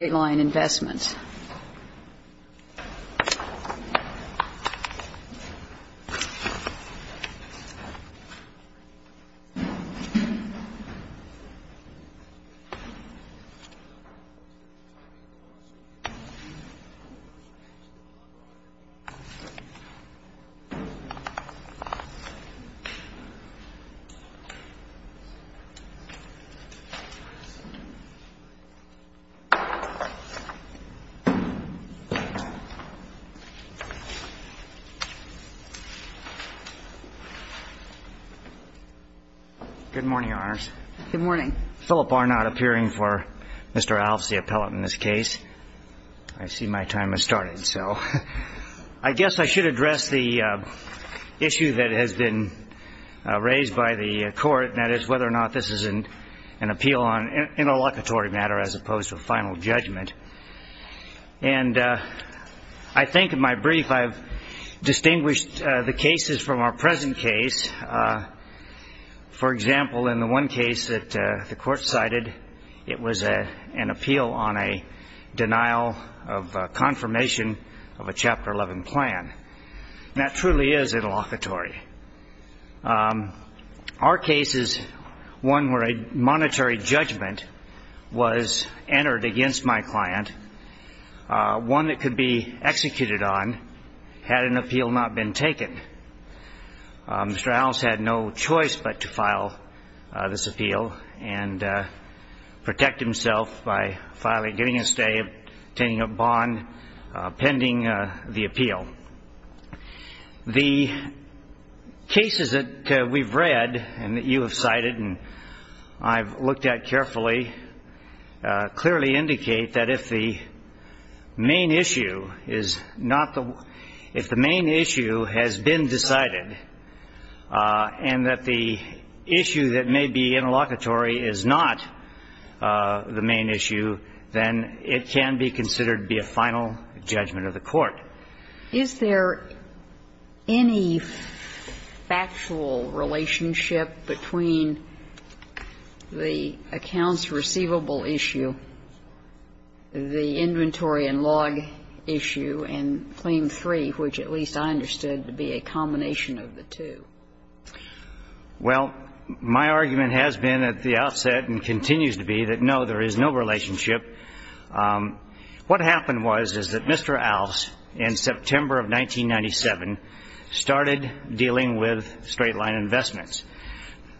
investments. Good morning, Your Honors. Good morning. Philip Arnot appearing for Mr. Alfs, the appellate in this case. I see my time has started. So I guess I should address the issue that has been raised by the court, and that is whether or not this is an appeal on an interlocutory matter as opposed to a final judgment. And I think in my brief I've distinguished the cases from our present case. For example, in the one case that the court cited, it was an appeal on a denial of confirmation of a Chapter 11 plan. That truly is interlocutory. Our case is one where a monetary judgment was entered against my client, one that could be executed on had an appeal not been taken. Mr. Alfs had no choice but to file this appeal and protect himself by getting a stay, obtaining a bond pending the appeal. The cases that we've read and that you have cited and I've looked at carefully clearly indicate that if the main issue is not the one, if the main issue has been decided and that the issue that may be interlocutory is not the main issue, then it can be considered to be a final judgment of the court. Is there any factual relationship between the accounts receivable issue, the inventory and log issue, and Claim 3, which at least I understood to be a combination of the two? Well, my argument has been at the outset and continues to be that, no, there is no relationship. What happened was that Mr. Alfs, in September of 1997, started dealing with straight-line investments.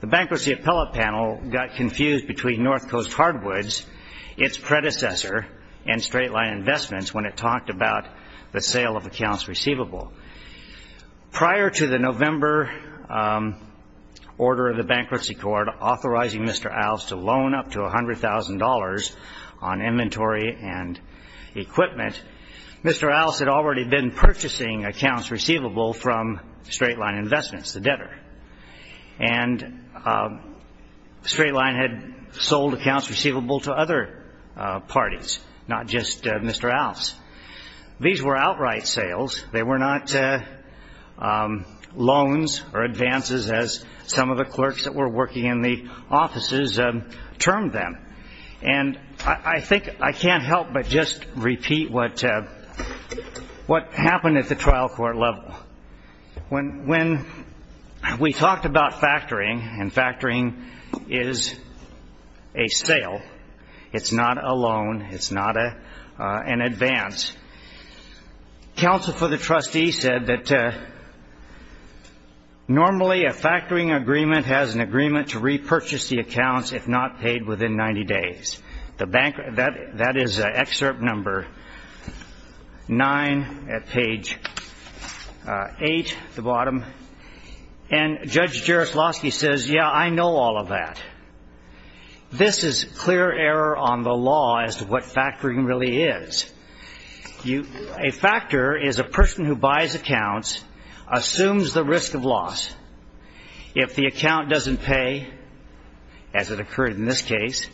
The Bankruptcy Appellate Panel got confused between North Coast Hardwoods, its predecessor, and straight-line investments when it talked about the sale of accounts receivable. Prior to the November order of the Bankruptcy Court authorizing Mr. Alfs to loan up to $100,000 on inventory and equipment, Mr. Alfs had already been purchasing accounts receivable from straight-line investments, the debtor, and straight-line had sold accounts receivable to other parties, not just Mr. Alfs. These were outright sales. They were not loans or advances as some of the clerks that were working in the offices termed them. And I think I can't help but just repeat what happened at the trial court level. When we talked about factoring, and factoring is a sale, it's not a loan, it's not an advance, counsel for the trustee said that normally a factoring agreement has an agreement to repurchase the accounts if not paid within 90 days. That is excerpt number 9 at page 8 at the bottom. And Judge Jaroslawski says, yeah, I know all of that. This is clear error on the law as to what factoring really is. A factor is a person who buys accounts assumes the risk of loss. If the account doesn't pay, as it occurred in this case,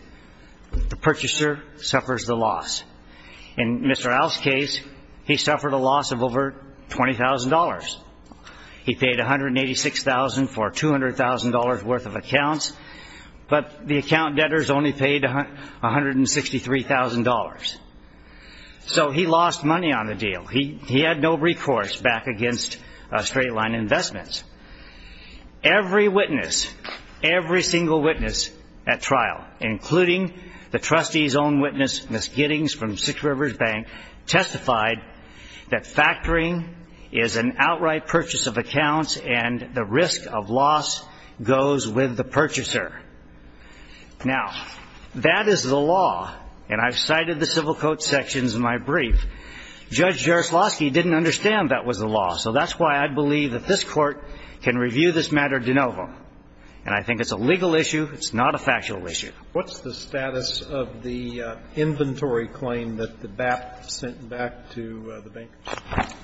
the purchaser suffers the loss. In Mr. Alfs' case, he suffered a loss of over $20,000. He paid $186,000 for $200,000 worth of accounts, but the account debtors only paid $163,000. So he lost money on the deal. He had no recourse back against straight-line investments. Every witness, every single witness at trial, including the trustee's own witness, Ms. Giddings from Six Rivers Bank, testified that factoring is an outright purchase of accounts and the risk of loss goes with the purchaser. Now, that is the law, and I've cited the civil court sections in my brief. Judge Jaroslawski didn't understand that was the law, so that's why I believe that this court can review this matter de novo. And I think it's a legal issue. It's not a factual issue. What's the status of the inventory claim that the BAP sent back to the bankers?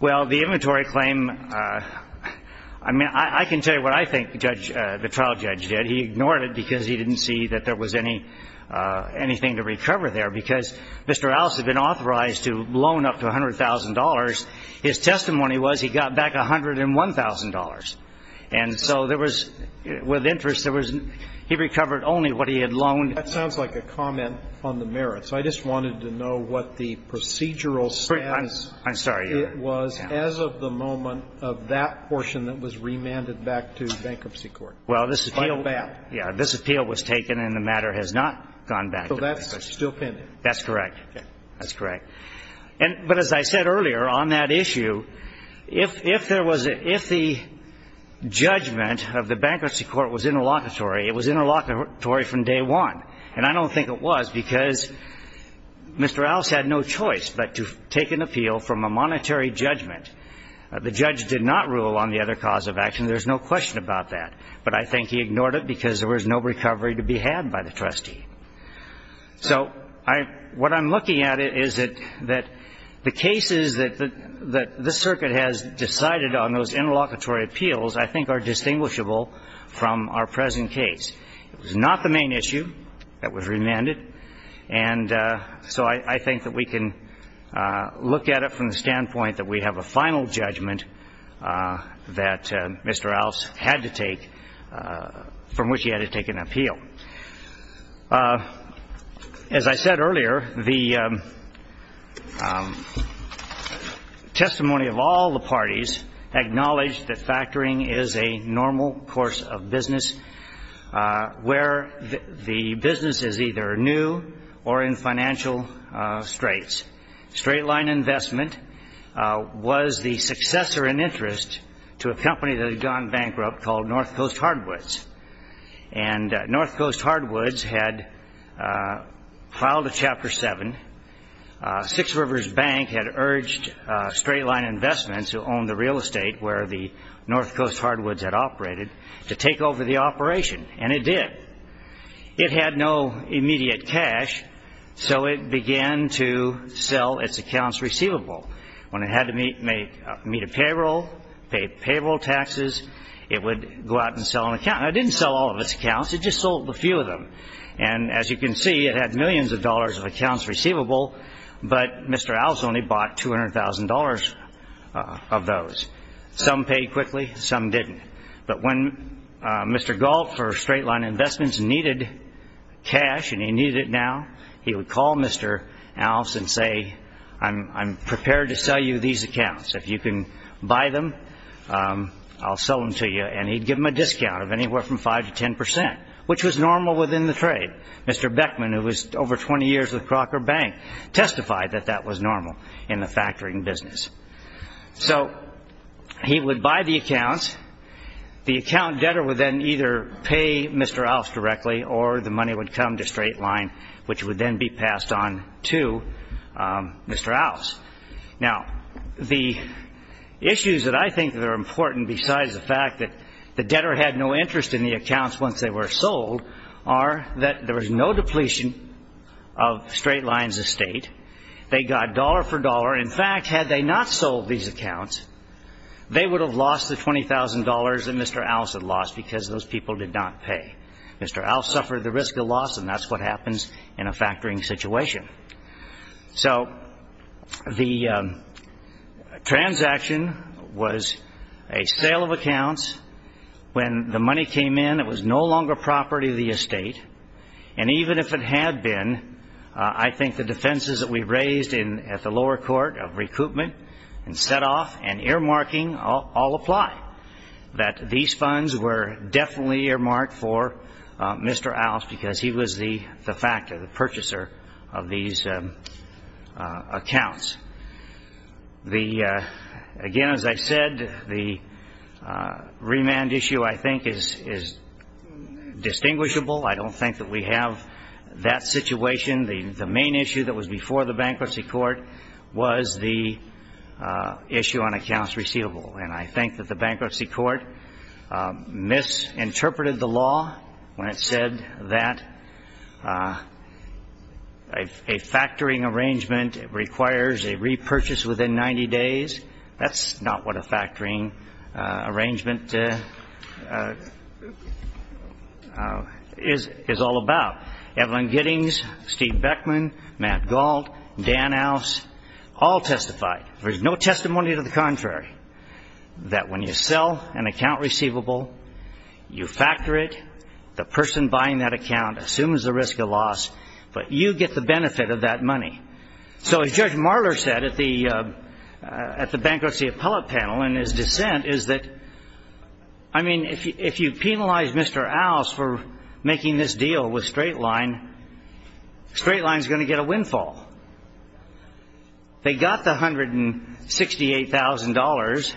Well, the inventory claim, I mean, I can tell you what I think the trial judge did. He ignored it because he didn't see that there was anything to recover there, because Mr. Alfs had been authorized to loan up to $100,000. His testimony was he got back $101,000. And so there was, with interest, there was he recovered only what he had loaned. That sounds like a comment on the merits. I just wanted to know what the procedural status was as of the moment of that portion that was remanded back to bankruptcy court. Well, this appeal was taken and the matter has not gone back. So that's still pending. That's correct. That's correct. But as I said earlier, on that issue, if the judgment of the bankruptcy court was interlocutory, it was interlocutory from day one. And I don't think it was because Mr. Alfs had no choice but to take an appeal from a monetary judgment. The judge did not rule on the other cause of action. There's no question about that. But I think he ignored it because there was no recovery to be had by the trustee. So what I'm looking at is that the cases that this circuit has decided on, those interlocutory appeals, I think are distinguishable from our present case. It was not the main issue that was remanded. And so I think that we can look at it from the standpoint that we have a final judgment that Mr. Alfs had to take, from which he had to take an appeal. As I said earlier, the testimony of all the parties acknowledged that factoring is a normal course of business where the business is either new or in financial straits. Straight line investment was the successor in interest to a company that had gone bankrupt called North Coast Hardwoods. And North Coast Hardwoods had filed a Chapter 7. Six Rivers Bank had urged Straight Line Investments, who owned the real estate where the North Coast Hardwoods had operated, to take over the operation, and it did. It had no immediate cash, so it began to sell its accounts receivable. When it had to meet a payroll, pay payroll taxes, it would go out and sell an account. Now, it didn't sell all of its accounts, it just sold a few of them. And as you can see, it had millions of dollars of accounts receivable, but Mr. Alfs only bought $200,000 of those. Some paid quickly, some didn't. But when Mr. Galt for Straight Line Investments needed cash, and he needed it now, he would call Mr. Alfs and say, I'm prepared to sell you these accounts. If you can buy them, I'll sell them to you. And he'd give them a discount of anywhere from 5 to 10 percent, which was normal within the trade. Mr. Beckman, who was over 20 years with Crocker Bank, testified that that was normal in the factoring business. So he would buy the accounts. The account debtor would then either pay Mr. Alfs directly or the money would come to Straight Line, which would then be passed on to Mr. Alfs. Now, the issues that I think that are important, besides the fact that the debtor had no interest in the accounts once they were sold, are that there was no depletion of Straight Line's estate. They got dollar for dollar. In fact, had they not sold these accounts, they would have lost the $20,000 that Mr. Alfs had lost because those people did not pay. Mr. Alfs suffered the risk of loss, and that's what happens in a factoring situation. So the transaction was a sale of accounts. When the money came in, it was no longer property of the estate. And even if it had been, I think the defenses that we raised at the lower court of recoupment and set-off and earmarking all apply, that these funds were definitely earmarked for Mr. Alfs because he was the factor, the purchaser of these accounts. Again, as I said, the remand issue, I think, is distinguishable. I don't think that we have that situation. The main issue that was before the bankruptcy court was the issue on accounts receivable. And I think that the bankruptcy court misinterpreted the law when it said that a factoring arrangement requires a repurchase within 90 days. That's not what a factoring arrangement is all about. Evelyn Giddings, Steve Beckman, Matt Gault, Dan Alfs all testified. There's no testimony to the contrary that when you sell an account receivable, you factor it. The person buying that account assumes the risk of loss, but you get the benefit of that money. So as Judge Marler said at the bankruptcy appellate panel in his dissent is that, I mean, if you penalize Mr. Alfs for making this deal with Straight Line, Straight Line is going to get a windfall. They got the $168,000,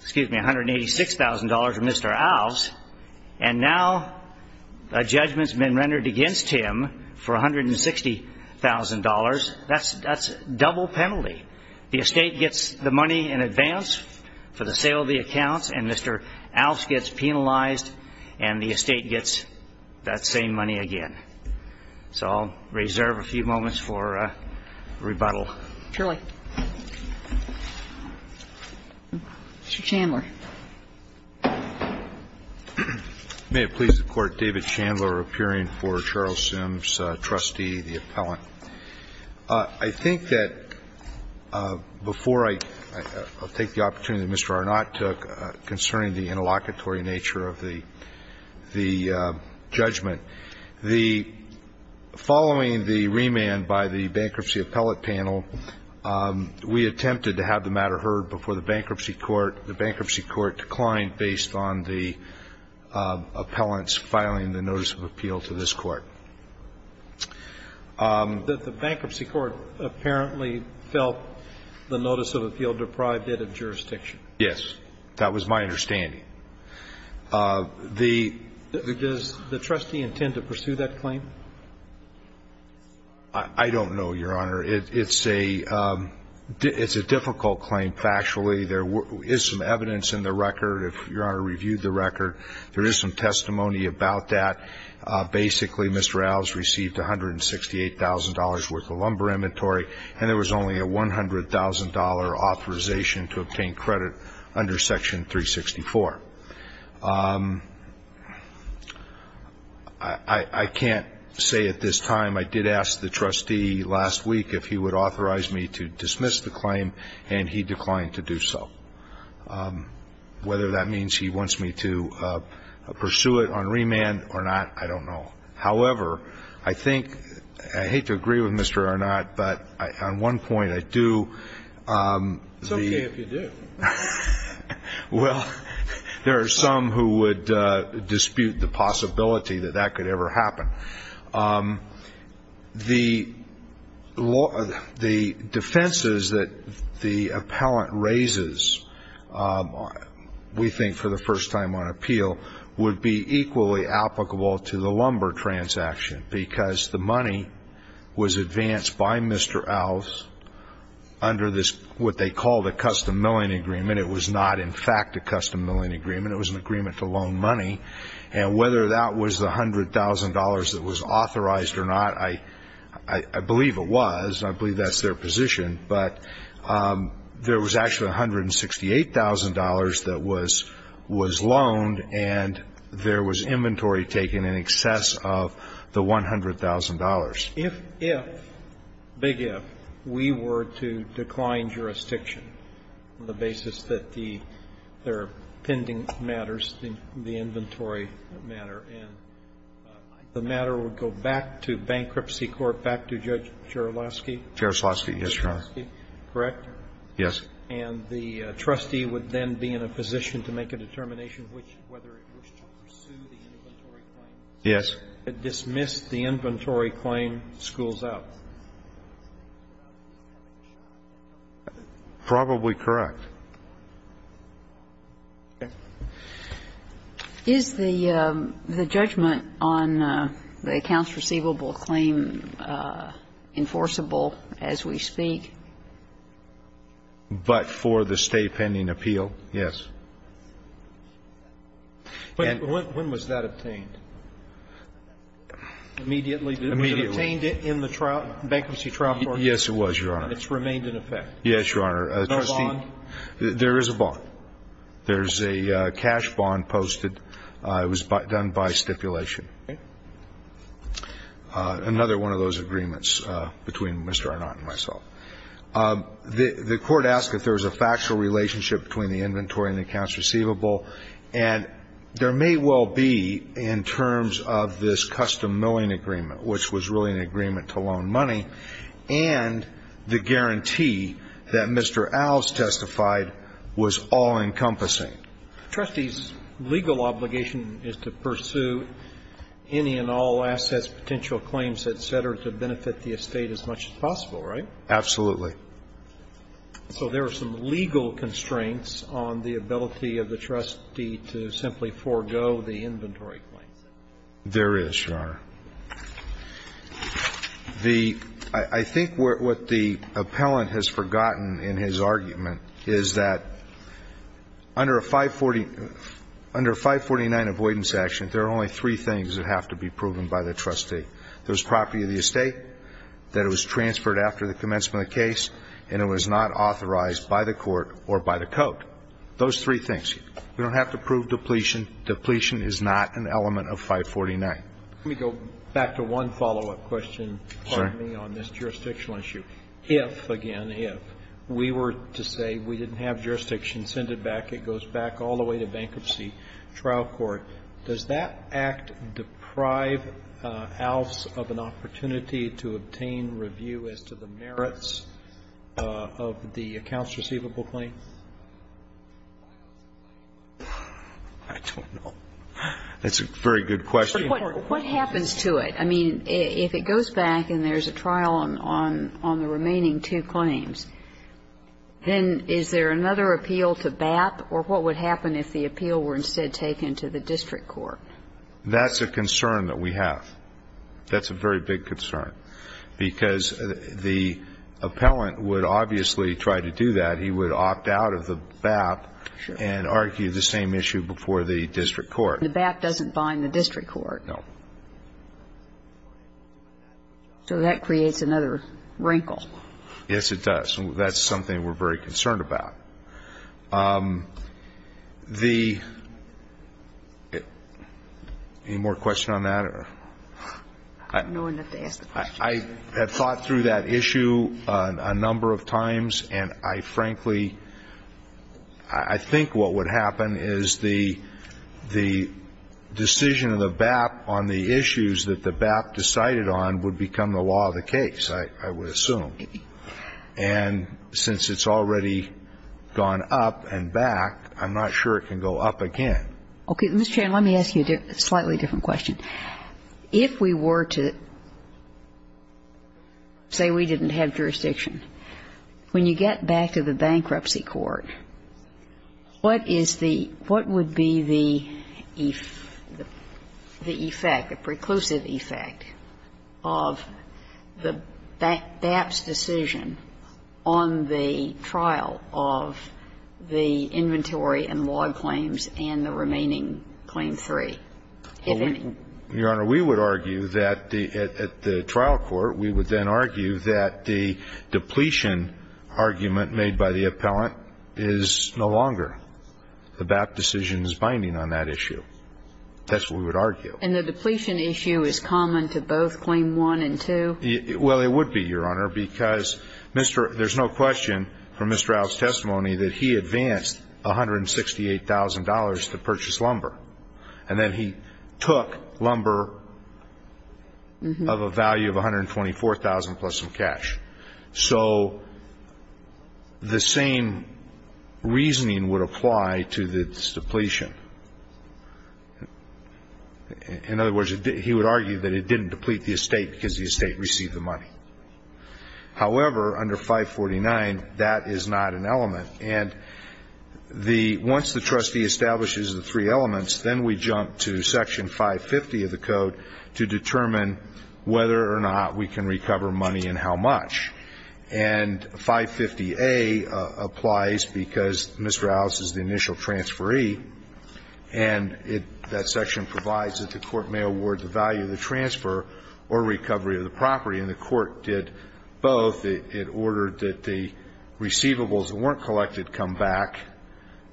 excuse me, $186,000 from Mr. Alfs, and now a judgment's been rendered against him for $160,000. That's double penalty. The estate gets the money in advance for the sale of the accounts, and Mr. Alfs gets penalized, and the estate gets that same money again. So I'll reserve a few moments for rebuttal. Surely. Mr. Chandler. May it please the Court, David Chandler, appearing for Charles Sims, trustee, the appellant. I think that before I take the opportunity that Mr. Arnot took concerning the interlocutory nature of the judgment, the following the remand by the bankruptcy appellate panel, we attempted to have the matter heard before the bankruptcy court. The bankruptcy court declined based on the appellant's filing the notice of appeal to this court. The bankruptcy court apparently felt the notice of appeal deprived it of jurisdiction. Yes. That was my understanding. Does the trustee intend to pursue that claim? I don't know, Your Honor. It's a difficult claim, factually. There is some evidence in the record. If Your Honor reviewed the record, there is some testimony about that. Basically, Mr. Alfs received $168,000 worth of lumber inventory, and there was only a $100,000 authorization to obtain credit under Section 364. I can't say at this time. I did ask the trustee last week if he would authorize me to dismiss the claim, and he declined to do so. Whether that means he wants me to pursue it on remand or not, I don't know. However, I think, I hate to agree with Mr. Arnot, but on one point, I do. It's okay if you do. Well, there are some who would dispute the possibility that that could ever happen. The defenses that the appellant raises, we think, for the first time on appeal, would be equally applicable to the lumber transaction, because the money was advanced by Mr. Alfs under what they call the custom milling agreement. It was not, in fact, a custom milling agreement. It was an agreement to loan money. And whether that was the $100,000 that was authorized or not, I believe it was. I believe that's their position. But there was actually $168,000 that was loaned, and there was inventory taken in excess of the $100,000. If, if, big if, we were to decline jurisdiction on the basis that the pending matters, the inventory matter, and the matter would go back to bankruptcy court, back to Judge Jaroslawski? Jaroslawski, yes, Your Honor. Correct? Yes. And the trustee would then be in a position to make a determination which, whether it wished to pursue the inventory claim. Yes. If it dismissed the inventory claim, schools out. Probably correct. Is the judgment on the accounts receivable claim enforceable as we speak? But for the stay pending appeal, yes. When was that obtained? Immediately. Immediately. It was obtained in the bankruptcy trial court? Yes, it was, Your Honor. And it's remained in effect? Yes, Your Honor. Is there a bond? There is a bond. There's a cash bond posted. It was done by stipulation. Another one of those agreements between Mr. Arnot and myself. The court asked if there was a factual relationship between the inventory and the accounts receivable, and there may well be in terms of this custom milling agreement, which was really an agreement to loan money, and the guarantee that Mr. Alves testified was all-encompassing. The trustee's legal obligation is to pursue any and all assets, potential claims, et cetera, to benefit the estate as much as possible, right? Absolutely. So there are some legal constraints on the ability of the trustee to simply forego the inventory claims? There is, Your Honor. The ñ I think what the appellant has forgotten in his argument is that under a 540 ñ under a 549 avoidance action, there are only three things that have to be proven by the trustee. There's property of the estate, that it was transferred after the commencement of the case, and it was not authorized by the court or by the court. Those three things. You don't have to prove depletion. Depletion is not an element of 549. Let me go back to one follow-up question on this jurisdictional issue. If, again, if, we were to say we didn't have jurisdiction, send it back, it goes back all the way to bankruptcy, trial court, does that act deprive Alves of an opportunity to obtain review as to the merits of the accounts receivable claim? I don't know. That's a very good question. What happens to it? I mean, if it goes back and there's a trial on the remaining two claims, then is there another appeal to BAP? Or what would happen if the appeal were instead taken to the district court? That's a concern that we have. That's a very big concern, because the appellant would obviously try to do that. He would opt out of the BAP and argue the same issue before the district court. The BAP doesn't bind the district court. No. So that creates another wrinkle. Yes, it does. That's something we're very concerned about. The any more question on that? I have thought through that issue a number of times. And I frankly, I think what would happen is the decision of the BAP on the issues that the BAP decided on would become the law of the case, I would assume. And since it's already gone up and back, I'm not sure it can go up again. Okay. Ms. Chan, let me ask you a slightly different question. If we were to say we didn't have jurisdiction, when you get back to the bankruptcy court, what is the what would be the effect, the preclusive effect of the BAP's decision on the trial of the inventory and log claims and the remaining claim 3? If any. Your Honor, we would argue that at the trial court, we would then argue that the depletion argument made by the appellant is no longer. The BAP decision is binding on that issue. That's what we would argue. And the depletion issue is common to both claim 1 and 2? Well, it would be, Your Honor, because there's no question from Mr. Al's testimony that he advanced $168,000 to purchase lumber. And then he took lumber of a value of $124,000 plus some cash. So the same reasoning would apply to this depletion. In other words, he would argue that it didn't deplete the estate because the estate received the money. However, under 549, that is not an element. And once the trustee establishes the three elements, then we jump to section 550 of the code to determine whether or not we can recover money and how much. And 550A applies because Mr. Al's is the initial transferee, and that section provides that the court may award the value of the transfer or recovery of the property. And the court did both. It ordered that the receivables that weren't collected come back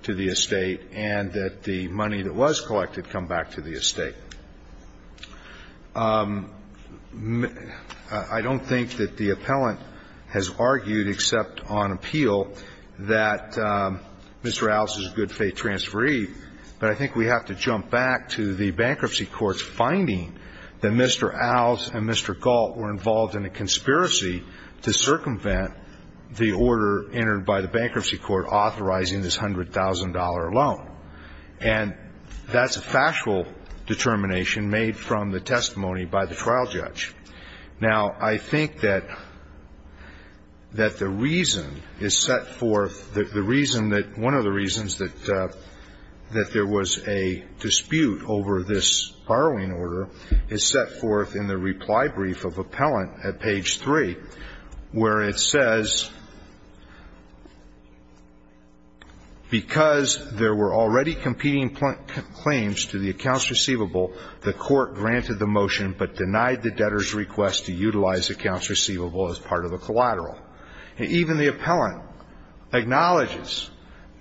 to the estate and that the money that was collected come back to the estate. I don't think that the appellant has argued except on appeal that Mr. Al's is a good-faith transferee, but I think we have to jump back to the bankruptcy court's finding that Mr. Al's and Mr. Gault were involved in a conspiracy to circumvent the order entered by the bankruptcy court authorizing this $100,000 loan. And that's a factual determination made from the testimony by the trial judge. Now, I think that the reason is set forth the reason that one of the reasons that there was a dispute over this borrowing order is set forth in the reply brief of appellant at page 3, where it says, because there were already competing claims to the accounts receivable, the court granted the motion but denied the debtor's request to utilize accounts receivable as part of a collateral. And even the appellant acknowledges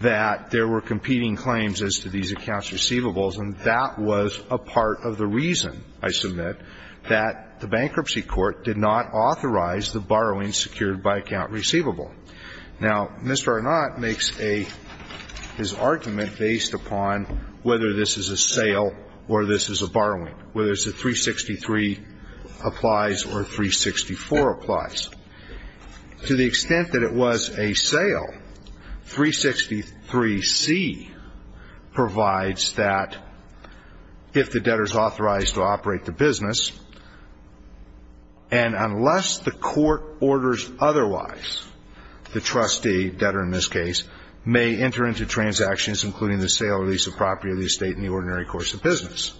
that there were competing claims as to these accounts receivables, and that was a part of the reason, I submit, that the bankruptcy court did not authorize the borrowing secured by account receivable. Now, Mr. Arnot makes a – his argument based upon whether this is a sale or this is a borrowing, whether it's a 363 applies or a 364 applies. To the extent that it was a sale, 363C provides that if the debtor is authorized to operate the business, and unless the court orders otherwise, the trustee, debtor in this case, may enter into transactions including the sale or lease of property or the estate in the ordinary course of business.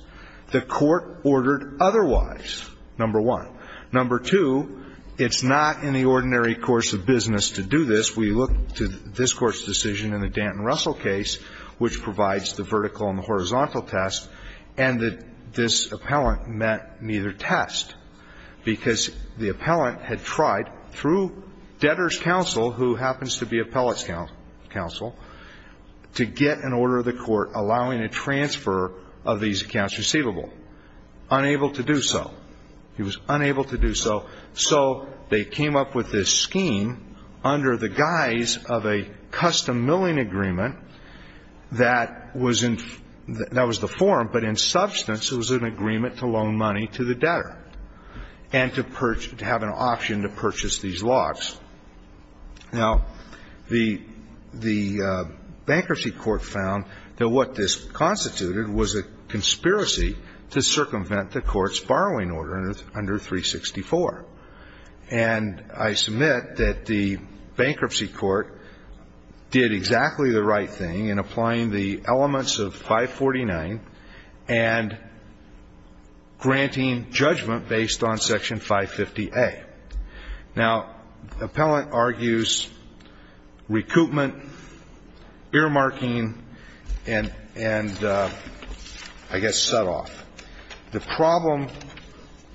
The court ordered otherwise, number one. Number two, it's not in the ordinary course of business to do this. We look to this Court's decision in the Danton-Russell case, which provides the vertical and the horizontal test, and that this appellant met neither test, because the appellant had tried through debtor's counsel, who happens to be appellant's counsel, to get an order of the court allowing a transfer of these accounts receivable. Unable to do so. He was unable to do so. So they came up with this scheme under the guise of a custom milling agreement that was in the form, but in substance, it was an agreement to loan money to the debtor and to have an option to purchase these lots. Now, the bankruptcy court found that what this constituted was a conspiracy to circumvent the court's borrowing order under 364. And I submit that the bankruptcy court did exactly the right thing in applying the elements of 549 and granting judgment based on section 550A. Now, the appellant argues recoupment, earmarking, and I guess set-off, the problem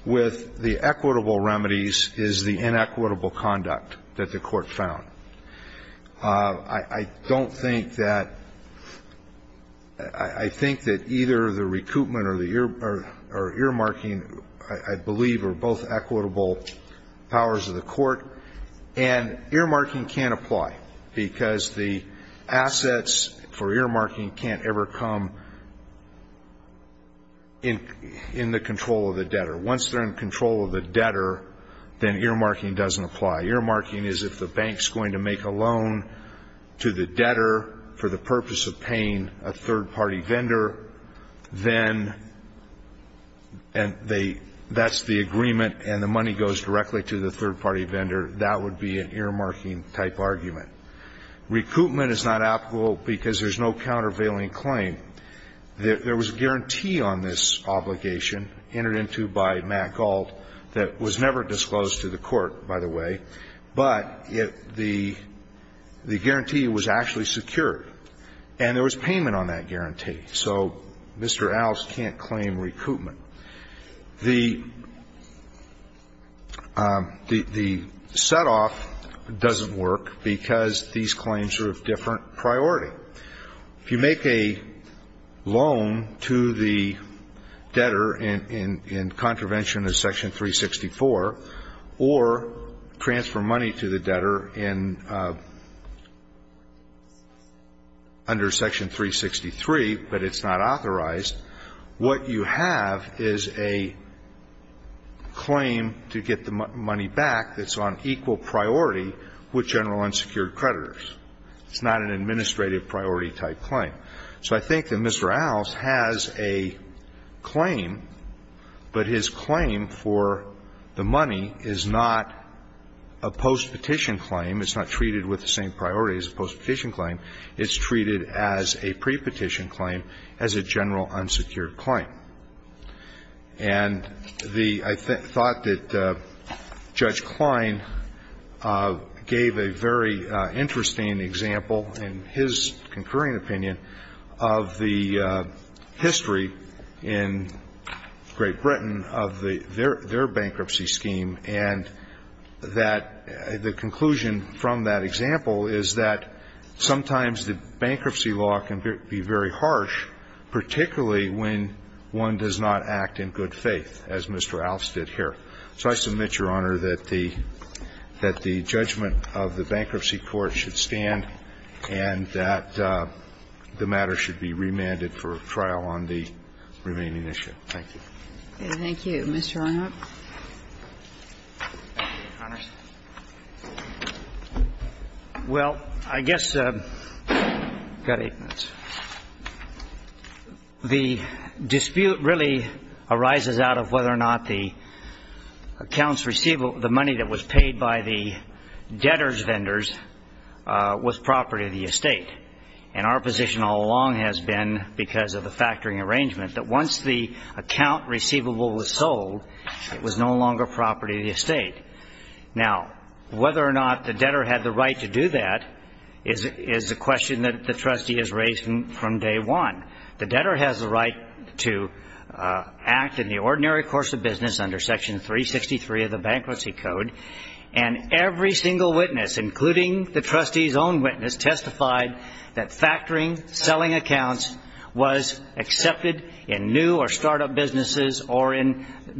with the equitable remedies is the inequitable conduct that the court found. I don't think that – I think that either the recoupment or the earmarking, I believe, are both equitable powers of the court. And earmarking can't apply, because the assets for earmarking can't ever come in the control of the debtor. Once they're in control of the debtor, then earmarking doesn't apply. Earmarking is if the bank's going to make a loan to the debtor for the purpose of paying a third-party vendor, then they – that's the agreement and the money goes directly to the third-party vendor. That would be an earmarking-type argument. Recoupment is not applicable because there's no countervailing claim. There was a guarantee on this obligation entered into by Matt Gault that was never disclosed to the court, by the way, but it – the guarantee was actually secured, and there was payment on that guarantee. So Mr. Allis can't claim recoupment. The set-off doesn't work because these claims are of different priority. If you make a loan to the debtor in contravention of Section 364, or transfer money to the debtor in – under Section 363, but it's not authorized, what you have is a claim to get the money back that's on equal priority with general unsecured creditors. It's not an administrative priority-type claim. So I think that Mr. Allis has a claim, but his claim for the money is not a postpetition claim. It's not treated with the same priority as a postpetition claim. It's treated as a prepetition claim, as a general unsecured claim. And the – I thought that Judge Klein gave a very interesting example in his concurring opinion of the history in Great Britain of the – their bankruptcy scheme, and that – the conclusion from that example is that sometimes the bankruptcy law can be very harsh, particularly when one does not act in good faith, as Mr. Allis did here. So I submit, Your Honor, that the – that the judgment of the bankruptcy court should stand and that the matter should be remanded for trial on the remaining issue. Thank you. Thank you. Mr. Arnott. Thank you, Your Honors. Well, I guess – I've got eight minutes. The dispute really arises out of whether or not the accounts receivable – the money that was paid by the debtors vendors was property of the estate. And our position all along has been, because of the factoring arrangement, that once the account receivable was sold, it was no longer property of the estate. Now, whether or not the debtor had the right to do that is a question that the trustee has raised from day one. The debtor has the right to act in the ordinary course of business under Section 363 of the Bankruptcy Code. And every single witness, including the trustee's own witness, testified that or in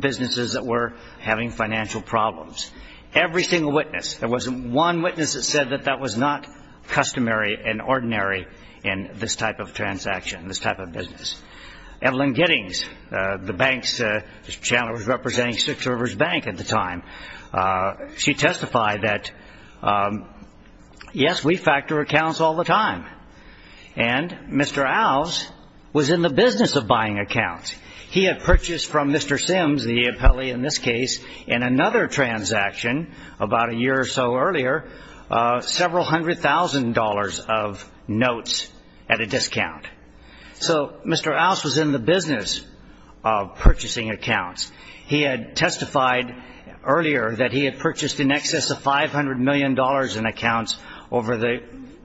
businesses that were having financial problems. Every single witness. There wasn't one witness that said that that was not customary and ordinary in this type of transaction, this type of business. Evelyn Giddings, the bank's – Mr. Chandler was representing Six Rivers Bank at the time. She testified that, yes, we factor accounts all the time. And Mr. Alves was in the business of buying accounts. He had purchased from Mr. Sims, the appellee in this case, in another transaction about a year or so earlier, several hundred thousand dollars of notes at a discount. So Mr. Alves was in the business of purchasing accounts. He had testified earlier that he had purchased in excess of $500 million in the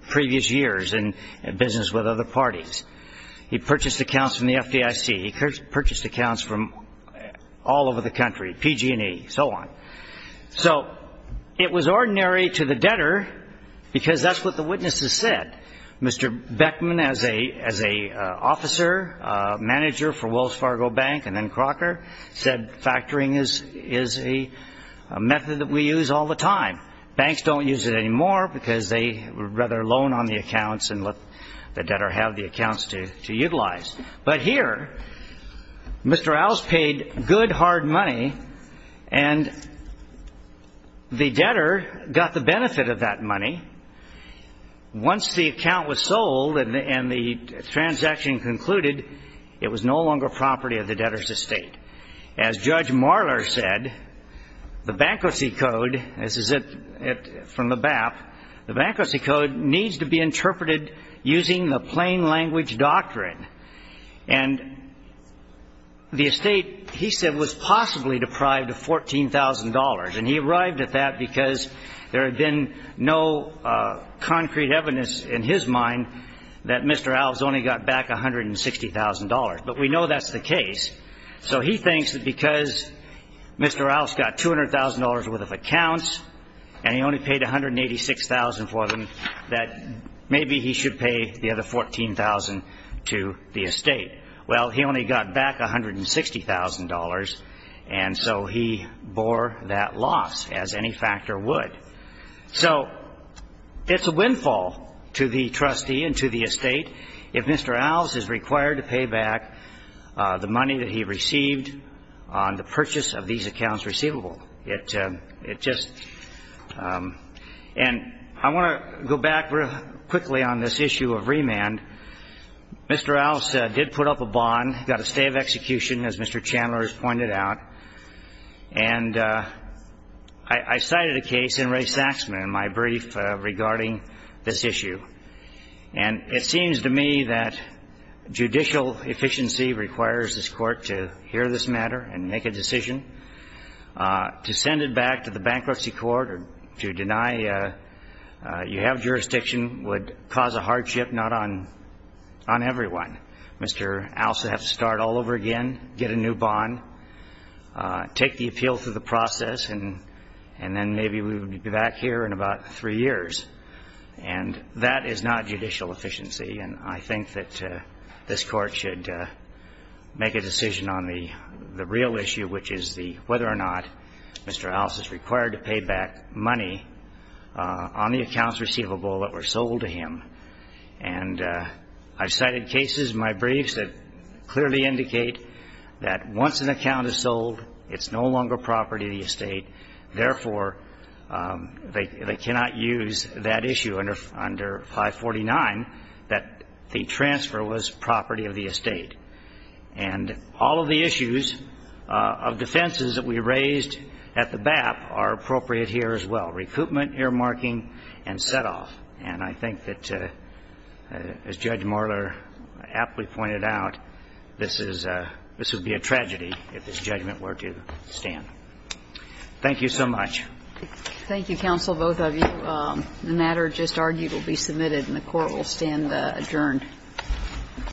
previous years in business with other parties. He purchased accounts from the FDIC. He purchased accounts from all over the country, PG&E, so on. So it was ordinary to the debtor because that's what the witnesses said. Mr. Beckman, as an officer, manager for Wells Fargo Bank and then Crocker, said factoring is a method that we use all the time. Banks don't use it anymore because they rather loan on the accounts and let the debtor have the accounts to utilize. But here, Mr. Alves paid good, hard money, and the debtor got the benefit of that money. Once the account was sold and the transaction concluded, it was no longer property of the debtor's estate. As Judge Marler said, the bankruptcy code, this is it from the BAP, the bankruptcy code needs to be interpreted using the plain language doctrine. And the estate, he said, was possibly deprived of $14,000. And he arrived at that because there had been no concrete evidence in his mind that Mr. Alves only got back $160,000. But we know that's the case. So he thinks that because Mr. Alves got $200,000 worth of accounts and he only paid $186,000 for them, that maybe he should pay the other $14,000 to the estate. Well, he only got back $160,000, and so he bore that loss as any factor would. So it's a windfall to the trustee and to the estate if Mr. Alves is required to pay $160,000. Now, there's a lot of evidence that he received on the purchase of these accounts receivable. It just ‑‑ and I want to go back quickly on this issue of remand. Mr. Alves did put up a bond, got a stay of execution, as Mr. Chandler has pointed out. And I cited a case in Ray Saxman in my brief regarding this issue. And it seems to me that judicial efficiency requires this court to hear this matter and make a decision. To send it back to the bankruptcy court or to deny you have jurisdiction would cause a hardship not on everyone. Mr. Alves would have to start all over again, get a new bond, take the appeal through the process, and then maybe we would be back here in about three years. And that is not judicial efficiency. And I think that this court should make a decision on the real issue, which is whether or not Mr. Alves is required to pay back money on the accounts receivable that were sold to him. And I cited cases in my briefs that clearly indicate that once an account is sold, it's no longer property of the estate. Therefore, they cannot use that issue under 549 that the transfer was property of the estate. And all of the issues of defenses that we raised at the BAP are appropriate here as well. Recoupment, earmarking, and set‑off. And I think that, as Judge Marler aptly pointed out, this would be a tragedy if this judgment were to stand. Thank you so much. Thank you, counsel, both of you. The matter just argued will be submitted and the court will stand adjourned.